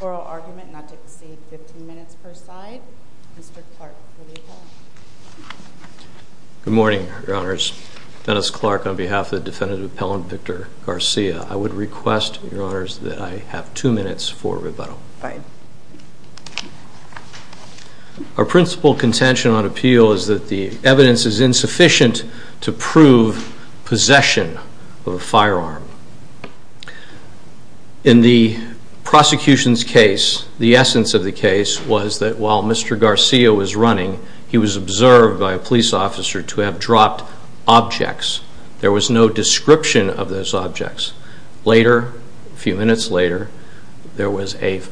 oral argument not to exceed 15 minutes per side. Mr. Clark for the appellant. Good morning, Your Honors. Dennis Clark on behalf of the Defendant Appellant Victor Garcia. I would request, Your Honors, that I have two minutes for rebuttal. Our principal contention on appeal is that the evidence is insufficient to prove possession of a firearm. In the prosecution's case, the essence of the case was that while Mr. Garcia was running, he was observed by a police officer to have dropped objects. There was no description of those objects. Later, a few minutes later, there was a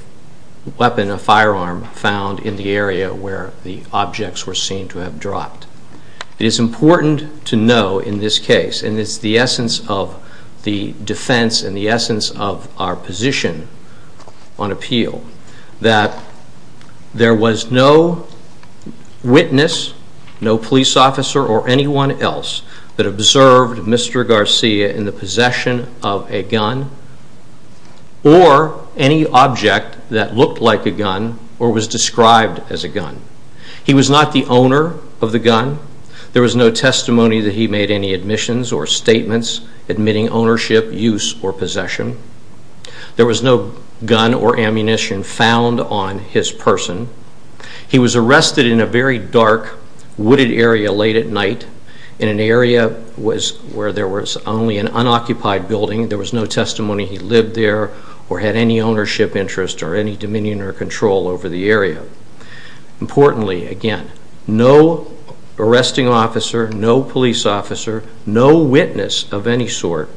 weapon, a firearm, found in the area where the objects were seen to have dropped. It is important to know in this case, and it's the essence of the defense and the essence of our position on appeal, that there was no witness, no police officer or anyone else that observed Mr. Garcia in the possession of a gun or any object that looked like a gun or was described as a gun. He was not the owner of the gun. There was no testimony that he made any admissions or statements admitting ownership, use or possession. There was no gun or ammunition found on his person. He was arrested in a very dark, wooded area late at night in an area where there was only an unoccupied building. There was no testimony he lived there or had any ownership interest or any dominion or control over the area. Importantly, again, no arresting officer, no police officer, no witness of any sort,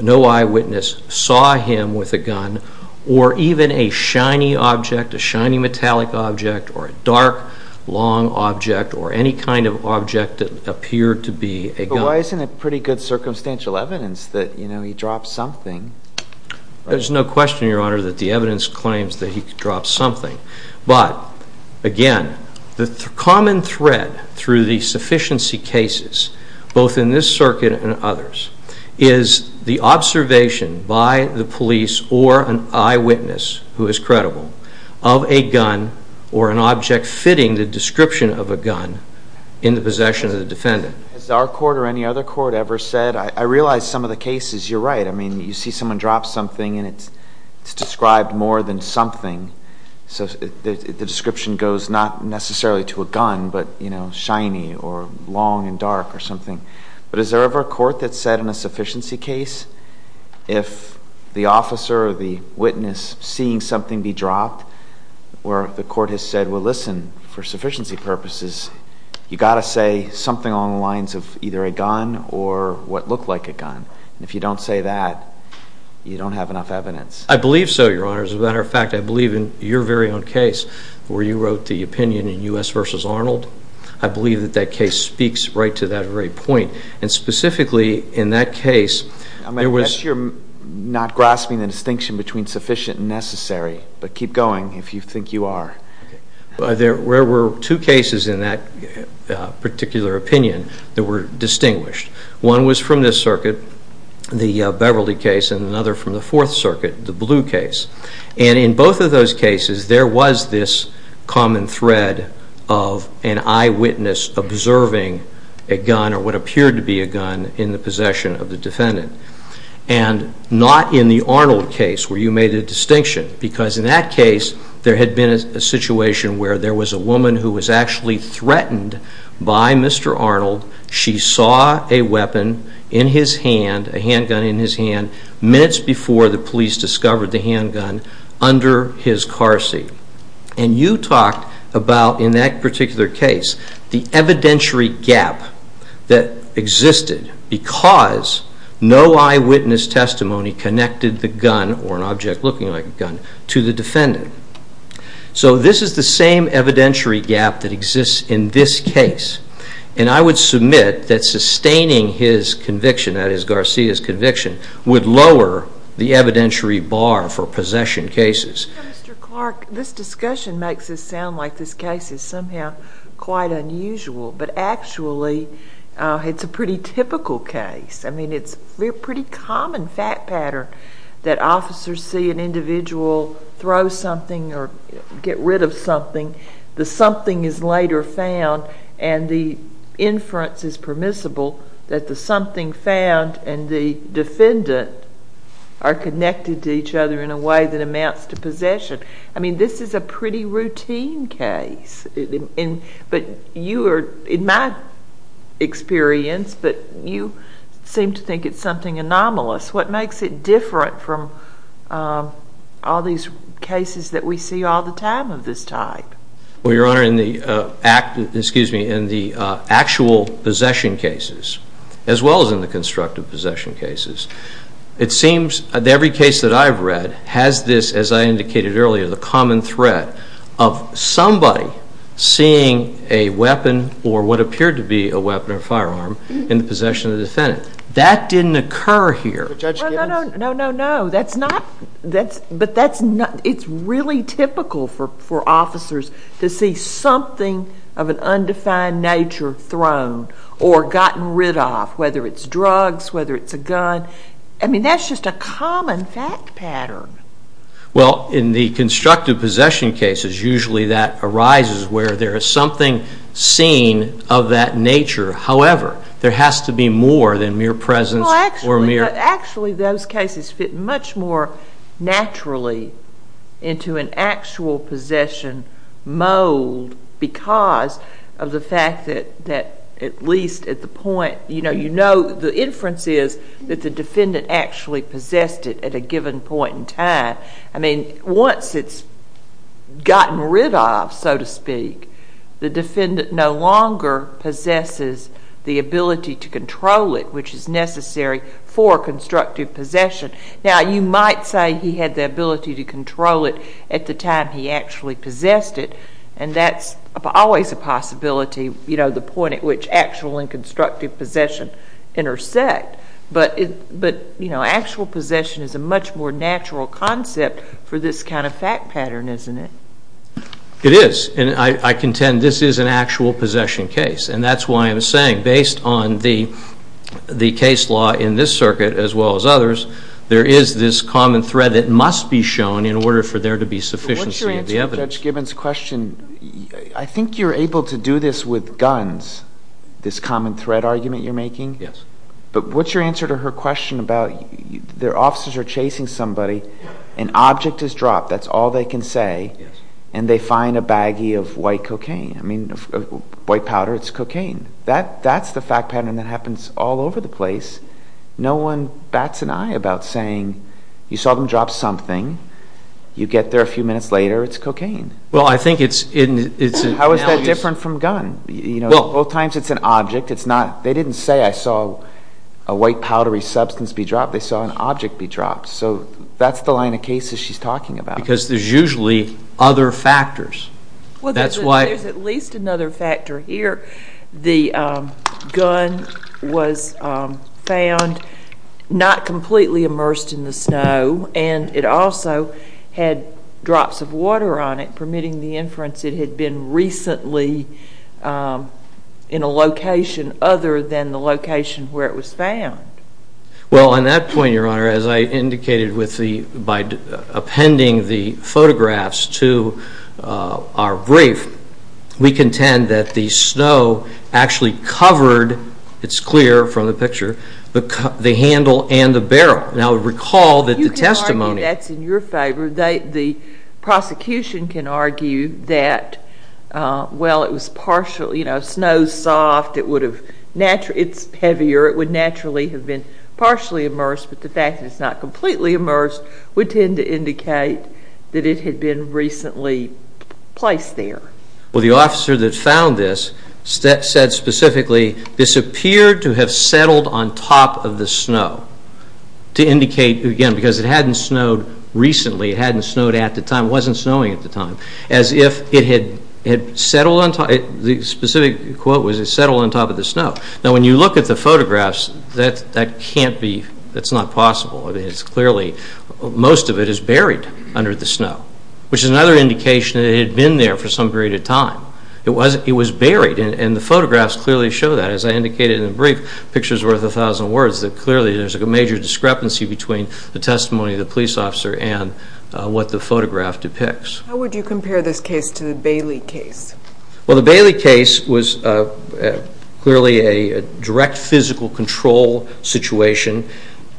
no eyewitness saw him with a gun or even a shiny metallic object or a dark, long object or any kind of object that appeared to be a gun. But why isn't it pretty good circumstantial evidence that he dropped something? There's no question, Your Honor, that the evidence claims that he dropped something. But, again, the common thread through the sufficiency cases, both in this circuit and others, is the observation by the police or an eyewitness who is credible of a gun or an object fitting the description of a gun in the possession of the defendant. Has our court or any other court ever said, I realize some of the cases, you're right, I mean, you see someone drop something and it's described more than something, so the description goes not necessarily to a gun but, you know, shiny or long and dark or something. But is there ever a court that said in a sufficiency case if the officer or the witness seeing something be dropped or the court has said, well, listen, for sufficiency purposes, you've got to say something along the lines of either a gun or what looked like a gun. And if you don't say that, you don't have enough evidence. I believe so, Your Honor. As a matter of fact, I believe in your very own case where you wrote the opinion in U.S. v. Arnold. I believe that that case speaks right to that very point. And specifically in that case, there was... I'm going to bet you're not grasping the distinction between sufficient and necessary. But keep going if you think you are. Okay. There were two cases in that particular opinion that were distinguished. One was from this circuit, the Beverly case, and another from the Fourth Circuit, the Blue case. And in both of those cases, there was this common thread of an eyewitness observing a gun or what appeared to be a gun in the possession of the defendant. And not in the Arnold case where you made a distinction. Because in that case, there had been a situation where there was a woman who was actually threatened by Mr. Arnold. She saw a weapon in his hand, a handgun in his hand, minutes before the police discovered the handgun under his car seat. And you talked about, in that particular case, the evidentiary gap that existed because no eyewitness testimony connected the gun or an object looking like a gun to the defendant. So this is the same evidentiary gap that exists in this case. And I would submit that sustaining his conviction, that is Garcia's conviction, would lower the evidentiary bar for possession cases. Mr. Clark, this discussion makes it sound like this case is somehow quite unusual. But actually, it's a pretty typical case. I mean, it's a pretty common fact pattern that officers see an individual throw something or get rid of something. The something is later found and the inference is permissible that the something found and the defendant are connected to each other in a way that amounts to possession. I mean, this is a pretty routine case. But you are, in my experience, but you seem to think it's something anomalous. What makes it different from all these cases that we see all the time of this type? Well, Your Honor, in the actual possession cases, as well as in the constructive possession cases, it seems that every case that I've read has this, as I indicated earlier, the common threat of somebody seeing a weapon or what appeared to be a weapon or firearm in the possession of the defendant. That didn't occur here. Judge Gibbons? No, no, no. But it's really typical for officers to see something of an undefined nature thrown or gotten rid of, whether it's drugs, whether it's a gun. I mean, that's just a common fact pattern. Well, in the constructive possession cases, usually that arises where there is something seen of that nature. However, there has to be more than mere presence or mere— Well, actually, those cases fit much more naturally into an actual possession mold because of the fact that at least at the point— you know, the inference is that the defendant actually possessed it at a given point in time. I mean, once it's gotten rid of, so to speak, the defendant no longer possesses the ability to control it, which is necessary for constructive possession. Now, you might say he had the ability to control it at the time he actually possessed it, and that's always a possibility, you know, the point at which actual and constructive possession intersect. But, you know, actual possession is a much more natural concept for this kind of fact pattern, isn't it? It is. And I contend this is an actual possession case. And that's why I'm saying, based on the case law in this circuit as well as others, there is this common thread that must be shown in order for there to be sufficiency of the evidence. But what's your answer to Judge Gibbons' question? I think you're able to do this with guns, this common thread argument you're making. Yes. But what's your answer to her question about their officers are chasing somebody, an object is dropped, that's all they can say, and they find a baggie of white cocaine. I mean, white powder, it's cocaine. That's the fact pattern that happens all over the place. No one bats an eye about saying you saw them drop something, you get there a few minutes later, it's cocaine. Well, I think it's an analogy. How is that different from gun? Both times it's an object. They didn't say I saw a white powdery substance be dropped. They saw an object be dropped. So that's the line of cases she's talking about. Because there's usually other factors. There's at least another factor here. The gun was found not completely immersed in the snow, and it also had drops of water on it permitting the inference it had been recently in a location other than the location where it was found. Well, on that point, Your Honor, as I indicated by appending the photographs to our brief, we contend that the snow actually covered, it's clear from the picture, the handle and the barrel. Now, recall that the testimony... You can argue that's in your favor. The prosecution can argue that, well, it was partially, you know, snow's soft, it's heavier, it would naturally have been partially immersed, but the fact that it's not completely immersed would tend to indicate that it had been recently placed there. Well, the officer that found this said specifically, this appeared to have settled on top of the snow to indicate, again, because it hadn't snowed recently, it hadn't snowed at the time, it wasn't snowing at the time, as if it had settled on top, the specific quote was it settled on top of the snow. Now, when you look at the photographs, that can't be, that's not possible. It's clearly, most of it is buried under the snow, which is another indication that it had been there for some period of time. It was buried, and the photographs clearly show that. As I indicated in the brief, pictures worth a thousand words, that clearly there's a major discrepancy between the testimony of the police officer and what the photograph depicts. How would you compare this case to the Bailey case? Well, the Bailey case was clearly a direct physical control situation.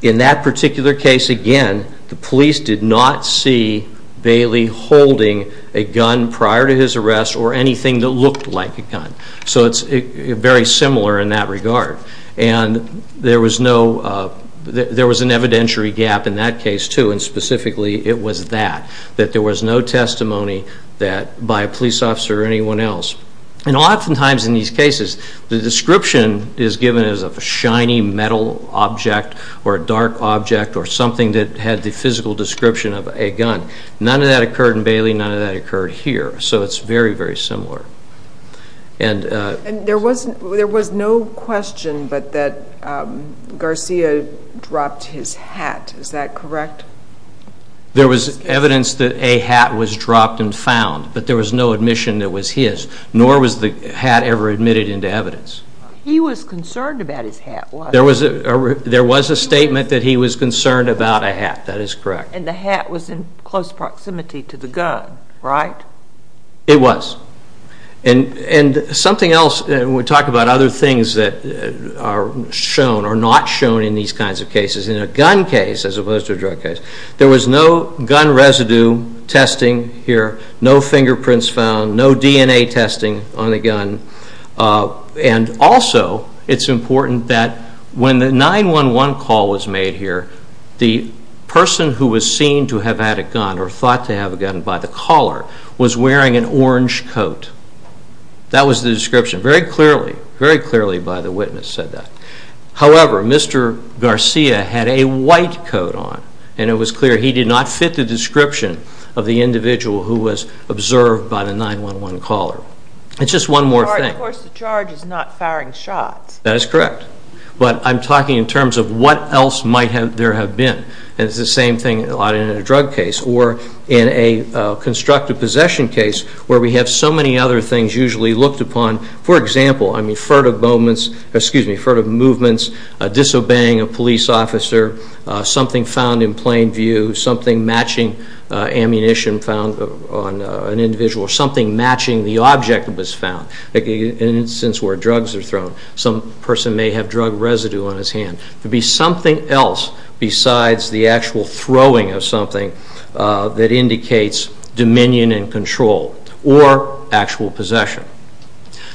In that particular case, again, the police did not see Bailey holding a gun prior to his arrest or anything that looked like a gun. So it's very similar in that regard. And there was no, there was an evidentiary gap in that case too, and specifically it was that, that there was no testimony by a police officer or anyone else. And oftentimes in these cases, the description is given as a shiny metal object or a dark object or something that had the physical description of a gun. None of that occurred in Bailey, none of that occurred here. So it's very, very similar. And there was no question but that Garcia dropped his hat, is that correct? There was evidence that a hat was dropped and found, but there was no admission that was his, nor was the hat ever admitted into evidence. He was concerned about his hat, wasn't he? There was a statement that he was concerned about a hat, that is correct. And the hat was in close proximity to the gun, right? It was. And something else, and we talked about other things that are shown or not shown in these kinds of cases, in a gun case as opposed to a drug case, there was no gun residue testing here, no fingerprints found, no DNA testing on the gun. And also it's important that when the 911 call was made here, the person who was seen to have had a gun or thought to have a gun by the caller was wearing an orange coat. That was the description, very clearly, very clearly by the witness said that. However, Mr. Garcia had a white coat on, and it was clear he did not fit the description of the individual who was observed by the 911 caller. It's just one more thing. Of course the charge is not firing shots. That is correct. But I'm talking in terms of what else might there have been, and it's the same thing in a drug case or in a constructive possession case where we have so many other things usually looked upon. For example, I mean furtive moments, excuse me, furtive movements, disobeying a police officer, something found in plain view, something matching ammunition found on an individual, something matching the object that was found, like an instance where drugs are thrown. Some person may have drug residue on his hand. It would be something else besides the actual throwing of something that indicates dominion and control or actual possession.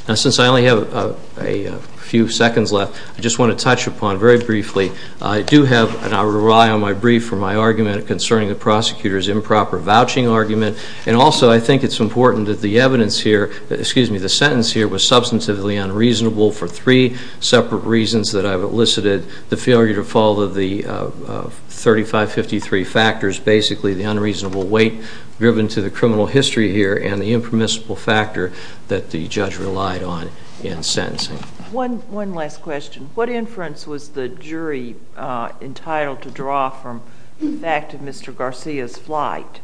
Now since I only have a few seconds left, I just want to touch upon very briefly. I do have, and I'll rely on my brief for my argument concerning the prosecutor's improper vouching argument, and also I think it's important that the evidence here, excuse me, the sentence here was substantively unreasonable for three separate reasons that I've elicited, the failure to follow the 3553 factors, basically the unreasonable weight driven to the criminal history here and the impermissible factor that the judge relied on in sentencing. One last question. What inference was the jury entitled to draw from the fact of Mr. Garcia's flight?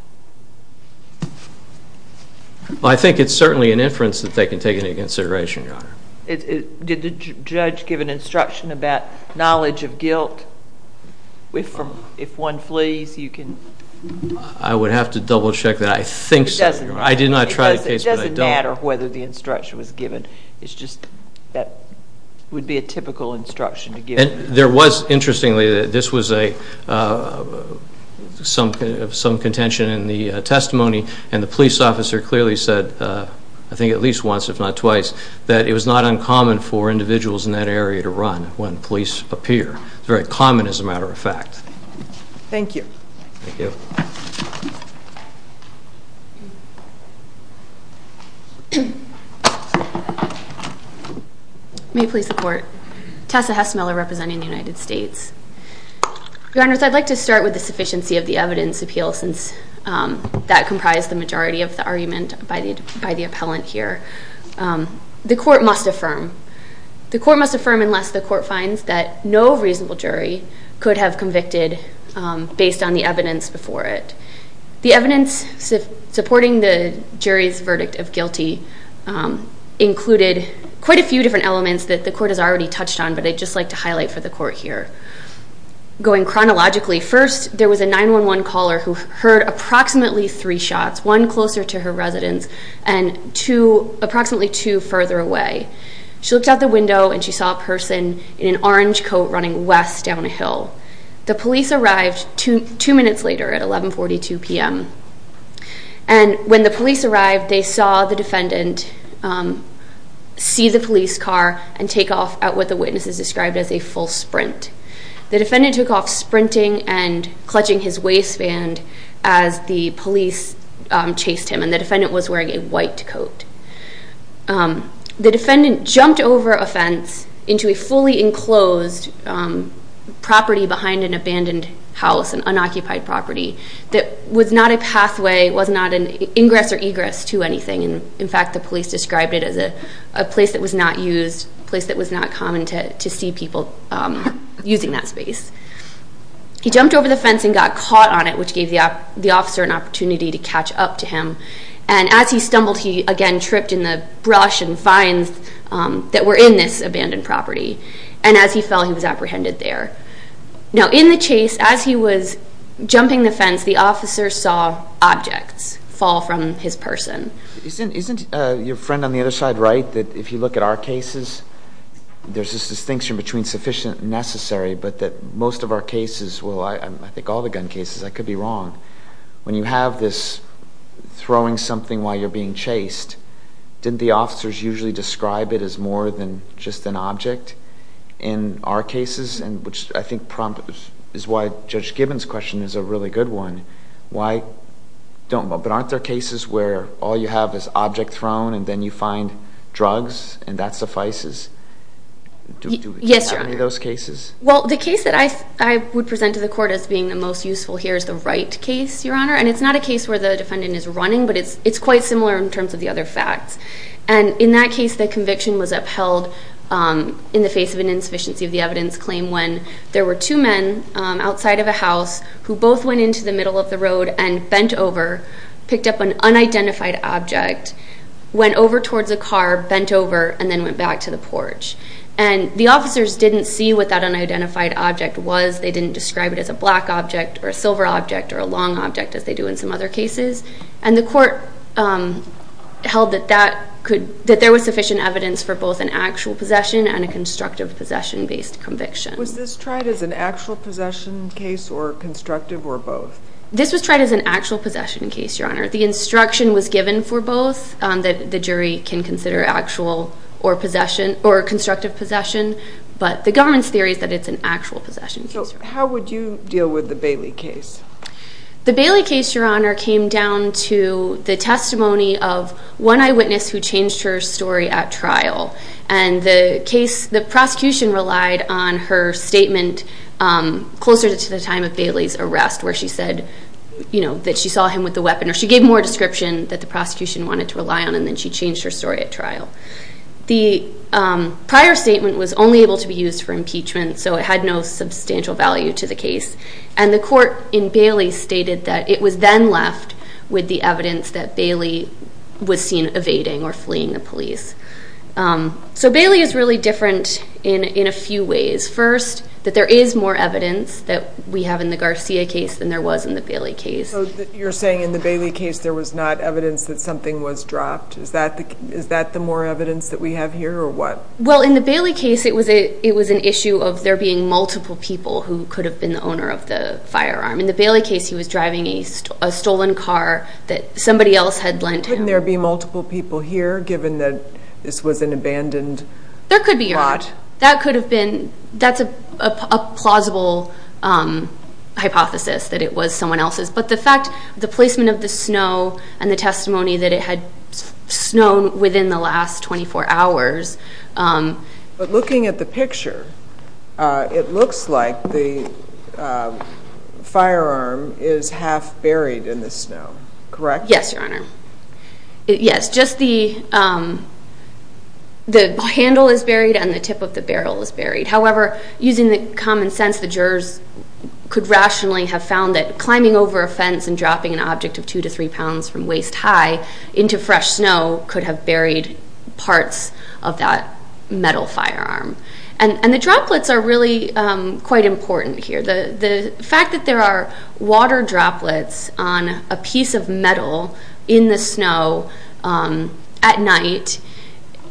I think it's certainly an inference that they can take into consideration, Your Honor. Did the judge give an instruction about knowledge of guilt if one flees? I would have to double check that. I think so, Your Honor. I did not try the case, but I don't. It doesn't matter whether the instruction was given. It's just that it would be a typical instruction to give. There was, interestingly, this was some contention in the testimony, and the police officer clearly said, I think at least once if not twice, that it was not uncommon for individuals in that area to run when police appear. It's very common as a matter of fact. Thank you. Thank you. May it please the Court. Tessa Hess-Miller representing the United States. Your Honors, I'd like to start with the sufficiency of the evidence appeal since that comprised the majority of the argument by the appellant here. The Court must affirm. The Court must affirm unless the Court finds that no reasonable jury could have convicted based on the evidence before it. The evidence supporting the jury's verdict of guilty included quite a few different elements that the Court has already touched on, but I'd just like to highlight for the Court here. Going chronologically, first there was a 911 caller who heard approximately three shots, one closer to her residence and approximately two further away. She looked out the window and she saw a person in an orange coat running west down a hill. The police arrived two minutes later at 1142 p.m., and when the police arrived they saw the defendant see the police car and take off at what the witnesses described as a full sprint. The defendant took off sprinting and clutching his waistband as the police chased him, and the defendant was wearing a white coat. The defendant jumped over a fence into a fully enclosed property behind an abandoned house, an unoccupied property that was not a pathway, was not an ingress or egress to anything. In fact, the police described it as a place that was not used, a place that was not common to see people using that space. He jumped over the fence and got caught on it, which gave the officer an opportunity to catch up to him, and as he stumbled he again tripped in the brush and vines that were in this abandoned property, and as he fell he was apprehended there. Now, in the chase, as he was jumping the fence, the officer saw objects fall from his person. Isn't your friend on the other side right that if you look at our cases, there's this distinction between sufficient and necessary, but that most of our cases, well, I think all the gun cases, I could be wrong, when you have this throwing something while you're being chased, didn't the officers usually describe it as more than just an object in our cases, which I think is why Judge Gibbons' question is a really good one. But aren't there cases where all you have is object thrown and then you find drugs and that suffices? Yes, Your Honor. Any of those cases? Well, the case that I would present to the court as being the most useful here is the Wright case, Your Honor, and it's not a case where the defendant is running, but it's quite similar in terms of the other facts. And in that case, the conviction was upheld in the face of an insufficiency of the evidence claim when there were two men outside of a house who both went into the middle of the road and bent over, picked up an unidentified object, went over towards a car, bent over, and then went back to the porch. And the officers didn't see what that unidentified object was. They didn't describe it as a black object or a silver object or a long object, as they do in some other cases. And the court held that there was sufficient evidence for both an actual possession and a constructive possession-based conviction. Was this tried as an actual possession case or constructive or both? This was tried as an actual possession case, Your Honor. The instruction was given for both, that the jury can consider actual or constructive possession, but the government's theory is that it's an actual possession case. So how would you deal with the Bailey case? The Bailey case, Your Honor, came down to the testimony of one eyewitness who changed her story at trial. And the prosecution relied on her statement closer to the time of Bailey's arrest where she said that she saw him with a weapon, or she gave more description that the prosecution wanted to rely on, and then she changed her story at trial. The prior statement was only able to be used for impeachment, so it had no substantial value to the case. And the court in Bailey stated that it was then left with the evidence that Bailey was seen evading or fleeing the police. So Bailey is really different in a few ways. First, that there is more evidence that we have in the Garcia case than there was in the Bailey case. So you're saying in the Bailey case there was not evidence that something was dropped? Is that the more evidence that we have here, or what? Well, in the Bailey case it was an issue of there being multiple people who could have been the owner of the firearm. In the Bailey case he was driving a stolen car that somebody else had lent him. Couldn't there be multiple people here, given that this was an abandoned plot? There could be. That could have been. That's a plausible hypothesis, that it was someone else's. But the fact, the placement of the snow and the testimony that it had snowed within the last 24 hours. But looking at the picture, it looks like the firearm is half buried in the snow, correct? Yes, Your Honor. Yes, just the handle is buried and the tip of the barrel is buried. However, using the common sense, the jurors could rationally have found that climbing over a fence and dropping an object of 2 to 3 pounds from waist high into fresh snow could have buried parts of that metal firearm. And the droplets are really quite important here. The fact that there are water droplets on a piece of metal in the snow at night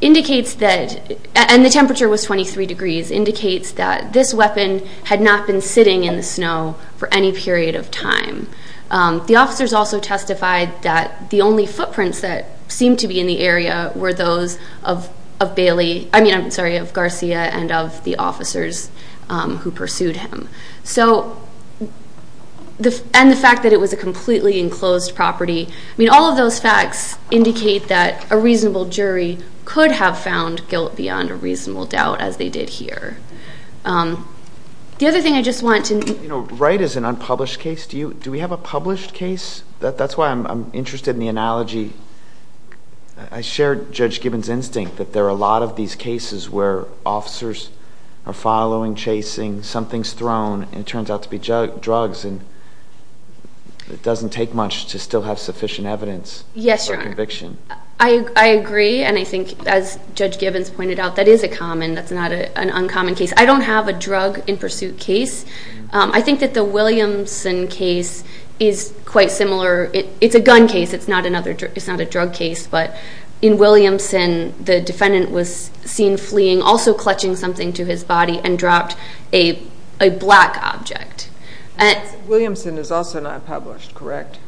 indicates that, and the temperature was 23 degrees, indicates that this weapon had not been sitting in the snow for any period of time. The officers also testified that the only footprints that seemed to be in the area were those of Garcia and of the officers who pursued him. And the fact that it was a completely enclosed property, all of those facts indicate that a reasonable jury could have found guilt beyond a reasonable doubt, as they did here. The other thing I just want to... You know, Wright is an unpublished case. Do we have a published case? That's why I'm interested in the analogy. I share Judge Gibbons' instinct that there are a lot of these cases where officers are following, chasing, something's thrown, and it turns out to be drugs, and it doesn't take much to still have sufficient evidence for conviction. Yes, Your Honor. I agree, and I think, as Judge Gibbons pointed out, that is a common, that's not an uncommon case. I don't have a drug-in-pursuit case. I think that the Williamson case is quite similar. It's a gun case. It's not a drug case. But in Williamson, the defendant was seen fleeing, also clutching something to his body, and dropped a black object. Williamson is also not published, correct?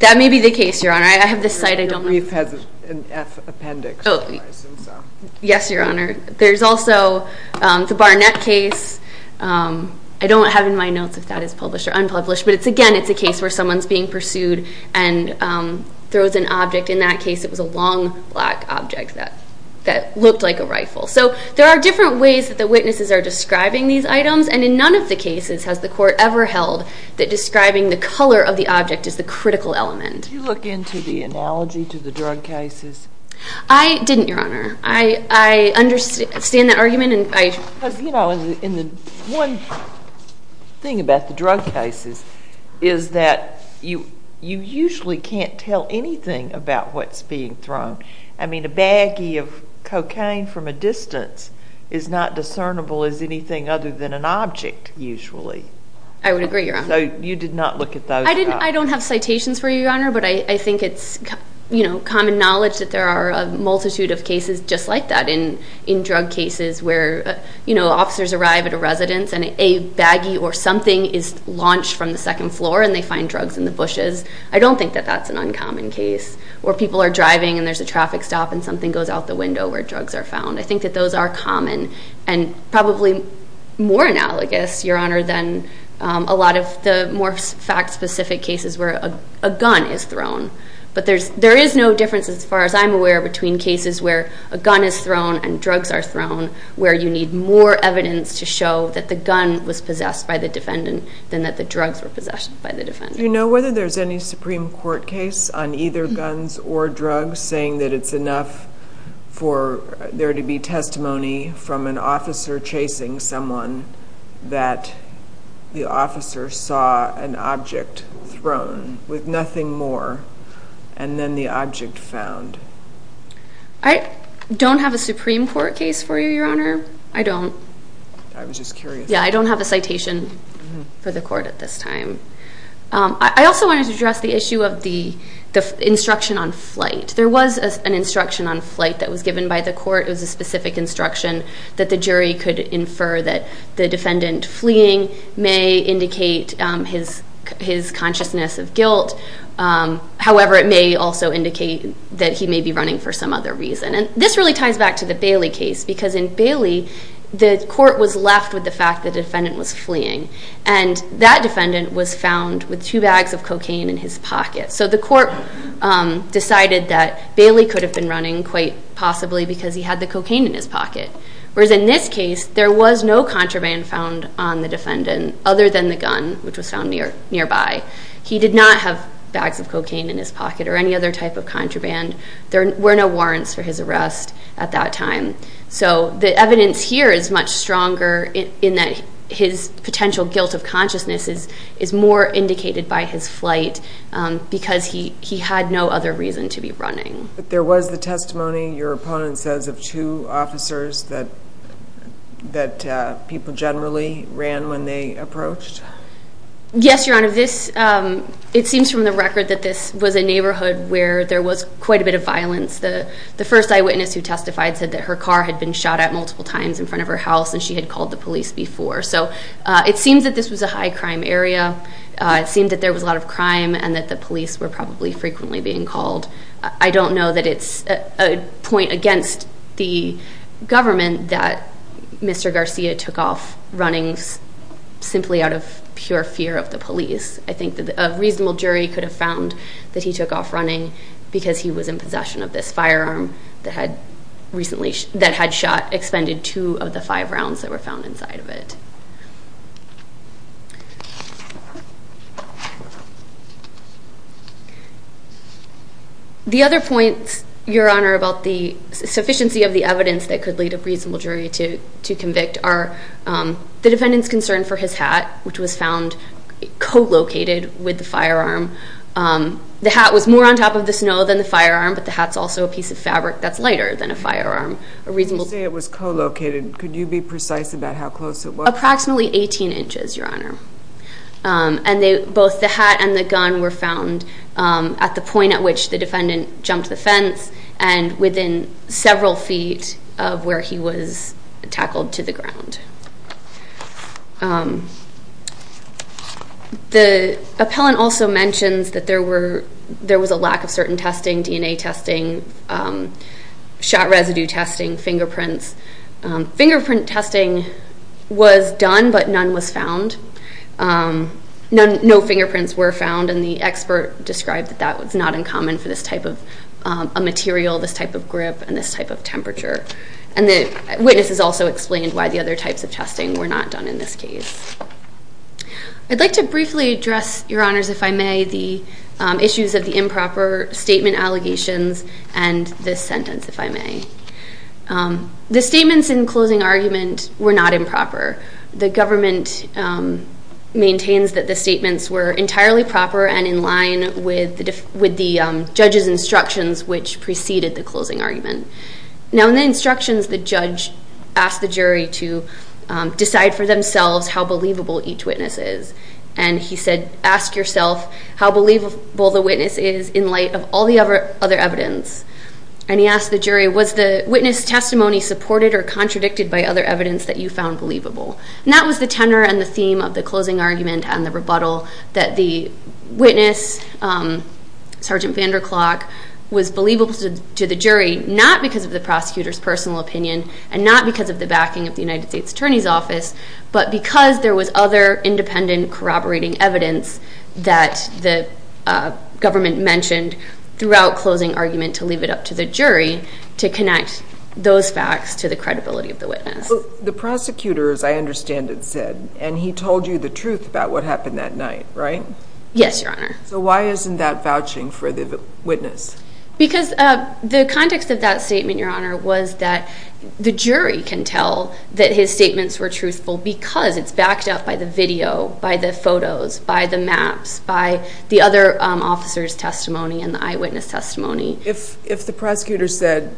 That may be the case, Your Honor. I have the site. The brief has an appendix. Yes, Your Honor. There's also the Barnett case. I don't have in my notes if that is published or unpublished, but, again, it's a case where someone's being pursued and throws an object. In that case, it was a long, black object that looked like a rifle. So there are different ways that the witnesses are describing these items, and in none of the cases has the court ever held that describing the color of the object is the critical element. Did you look into the analogy to the drug cases? I didn't, Your Honor. I understand that argument. Because, you know, one thing about the drug cases is that you usually can't tell anything about what's being thrown. I mean, a baggie of cocaine from a distance is not discernible as anything other than an object, usually. I would agree, Your Honor. So you did not look at those? I don't have citations for you, Your Honor, but I think it's common knowledge that there are a multitude of cases just like that in drug cases where officers arrive at a residence and a baggie or something is launched from the second floor and they find drugs in the bushes. I don't think that that's an uncommon case, where people are driving and there's a traffic stop and something goes out the window where drugs are found. I think that those are common and probably more analogous, Your Honor, than a lot of the more fact-specific cases where a gun is thrown. But there is no difference, as far as I'm aware, between cases where a gun is thrown and drugs are thrown, where you need more evidence to show that the gun was possessed by the defendant than that the drugs were possessed by the defendant. Do you know whether there's any Supreme Court case on either guns or drugs where they're saying that it's enough for there to be testimony from an officer chasing someone that the officer saw an object thrown with nothing more and then the object found? I don't have a Supreme Court case for you, Your Honor. I don't. I was just curious. Yeah, I don't have a citation for the court at this time. I also wanted to address the issue of the instruction on flight. There was an instruction on flight that was given by the court. It was a specific instruction that the jury could infer that the defendant fleeing may indicate his consciousness of guilt. However, it may also indicate that he may be running for some other reason. And this really ties back to the Bailey case, because in Bailey the court was left with the fact the defendant was fleeing, and that defendant was found with two bags of cocaine in his pocket. So the court decided that Bailey could have been running quite possibly because he had the cocaine in his pocket, whereas in this case there was no contraband found on the defendant other than the gun, which was found nearby. He did not have bags of cocaine in his pocket or any other type of contraband. There were no warrants for his arrest at that time. So the evidence here is much stronger in that his potential guilt of consciousness is more indicated by his flight because he had no other reason to be running. But there was the testimony, your opponent says, of two officers that people generally ran when they approached? Yes, Your Honor. It seems from the record that this was a neighborhood where there was quite a bit of violence. The first eyewitness who testified said that her car had been shot at multiple times in front of her house, and she had called the police before. So it seems that this was a high-crime area. It seemed that there was a lot of crime and that the police were probably frequently being called. I don't know that it's a point against the government that Mr. Garcia took off running simply out of pure fear of the police. I think that a reasonable jury could have found that he took off running because he was in possession of this firearm that had recently shot, expended two of the five rounds that were found inside of it. The other point, Your Honor, about the sufficiency of the evidence that could lead a reasonable jury to convict are the defendant's concern for his hat, which was found co-located with the firearm. The hat was more on top of the snow than the firearm, but the hat's also a piece of fabric that's lighter than a firearm. You say it was co-located. Could you be precise about how close it was? Approximately 18 inches, Your Honor. And both the hat and the gun were found at the point at which the defendant jumped the fence The appellant also mentions that there was a lack of certain testing, DNA testing, shot residue testing, fingerprints. Fingerprint testing was done, but none was found. No fingerprints were found, and the expert described that that was not uncommon for this type of material, this type of grip, and this type of temperature. And the witness has also explained why the other types of testing were not done in this case. I'd like to briefly address, Your Honors, if I may, the issues of the improper statement allegations and this sentence, if I may. The statements in closing argument were not improper. The government maintains that the statements were entirely proper and in line with the judge's instructions, which preceded the closing argument. Now in the instructions, the judge asked the jury to decide for themselves how believable each witness is. And he said, ask yourself how believable the witness is in light of all the other evidence. And he asked the jury, was the witness testimony supported or contradicted by other evidence that you found believable? And that was the tenor and the theme of the closing argument and the rebuttal of the jury, not because of the prosecutor's personal opinion and not because of the backing of the United States Attorney's Office, but because there was other independent corroborating evidence that the government mentioned throughout closing argument to leave it up to the jury to connect those facts to the credibility of the witness. The prosecutor, as I understand it, said, and he told you the truth about what happened that night, right? Yes, Your Honor. So why isn't that vouching for the witness? Because the context of that statement, Your Honor, was that the jury can tell that his statements were truthful because it's backed up by the video, by the photos, by the maps, by the other officer's testimony and the eyewitness testimony. If the prosecutor said,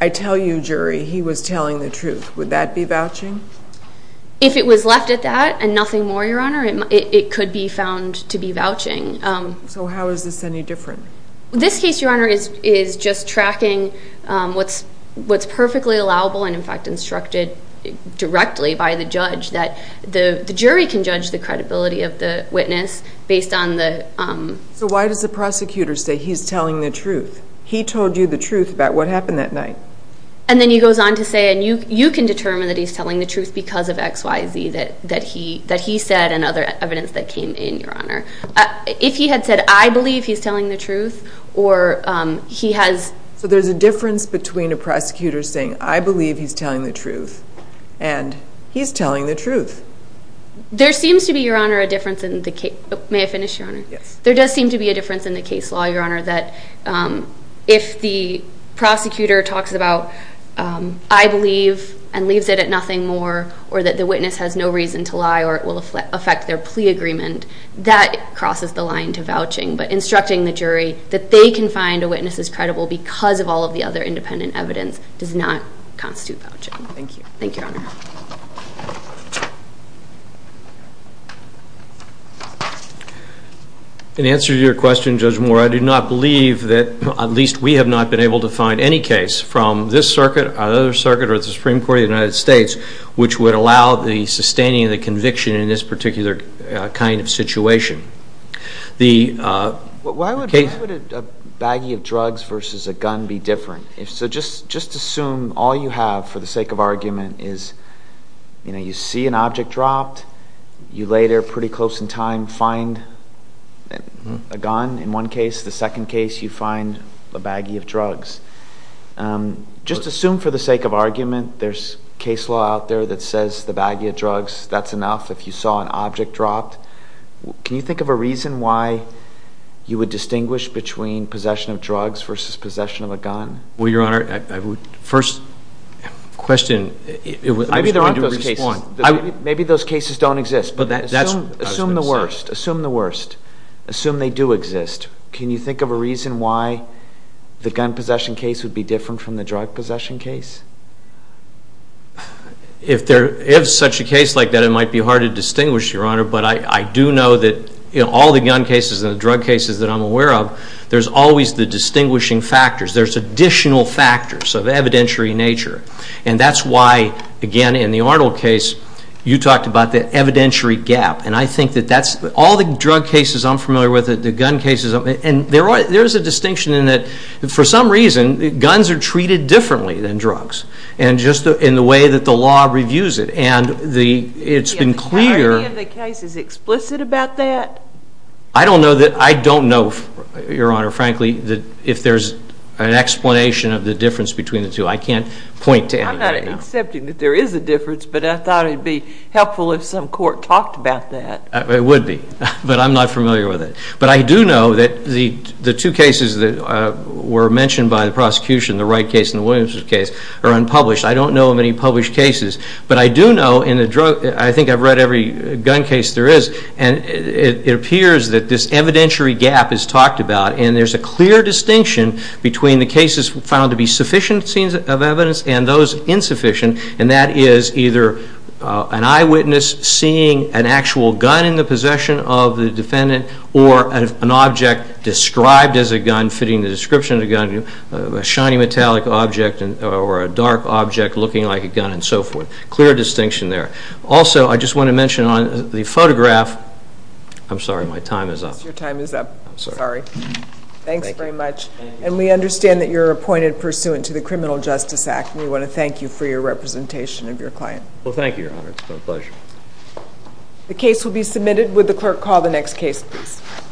I tell you, jury, he was telling the truth, would that be vouching? If it was left at that and nothing more, Your Honor, it could be found to be vouching. So how is this any different? This case, Your Honor, is just tracking what's perfectly allowable and, in fact, instructed directly by the judge that the jury can judge the credibility of the witness based on the... So why does the prosecutor say he's telling the truth? He told you the truth about what happened that night. And then he goes on to say, and you can determine that he's telling the truth because of X, Y, Z that he said and other evidence that came in, Your Honor. If he had said, I believe he's telling the truth or he has... So there's a difference between a prosecutor saying, I believe he's telling the truth and he's telling the truth. There seems to be, Your Honor, a difference in the case... May I finish, Your Honor? Yes. There does seem to be a difference in the case law, Your Honor, that if the prosecutor talks about, I believe and leaves it at nothing more or that the witness has no reason to lie or it will affect their plea agreement, that crosses the line to vouching. But instructing the jury that they can find a witness is credible because of all of the other independent evidence does not constitute vouching. Thank you. Thank you, Your Honor. In answer to your question, Judge Moore, I do not believe that at least we have not been able to find any case from this circuit or the other circuit or the Supreme Court of the United States which would allow the sustaining of the conviction in this particular kind of situation. Why would a baggie of drugs versus a gun be different? So just assume all you have for the sake of argument is you see an object dropped, you later pretty close in time find a gun in one case, the second case you find a baggie of drugs. Just assume for the sake of argument there is case law out there that says the baggie of drugs, that is enough if you saw an object dropped. Can you think of a reason why you would distinguish between possession of drugs versus possession of a gun? Well, Your Honor, first question. Maybe there aren't those cases. Maybe those cases don't exist. Assume the worst. Assume the worst. Assume they do exist. Can you think of a reason why the gun possession case would be different from the drug possession case? If such a case like that, it might be hard to distinguish, Your Honor, but I do know that all the gun cases and the drug cases that I'm aware of, there's always the distinguishing factors. There's additional factors of evidentiary nature, and that's why, again, in the Arnold case, you talked about the evidentiary gap, and I think that all the drug cases I'm familiar with and there is a distinction in that for some reason guns are treated differently than drugs and just in the way that the law reviews it, and it's been clear. Is the clarity of the case explicit about that? I don't know, Your Honor, frankly, if there's an explanation of the difference between the two. I can't point to anything right now. I'm not accepting that there is a difference, but I thought it would be helpful if some court talked about that. It would be, but I'm not familiar with it. But I do know that the two cases that were mentioned by the prosecution, the Wright case and the Williams case, are unpublished. I don't know of any published cases. But I do know in the drug, I think I've read every gun case there is, and it appears that this evidentiary gap is talked about, and there's a clear distinction between the cases found to be sufficient scenes of evidence and those insufficient, and that is either an eyewitness seeing an actual gun in the possession of the defendant or an object described as a gun fitting the description of the gun, a shiny metallic object or a dark object looking like a gun and so forth. Clear distinction there. Also, I just want to mention on the photograph, I'm sorry, my time is up. Your time is up. I'm sorry. Thanks very much. And we understand that you're appointed pursuant to the Criminal Justice Act, and we want to thank you for your representation of your client. Well, thank you, Your Honor. It's been a pleasure. The case will be submitted. Would the clerk call the next case, please?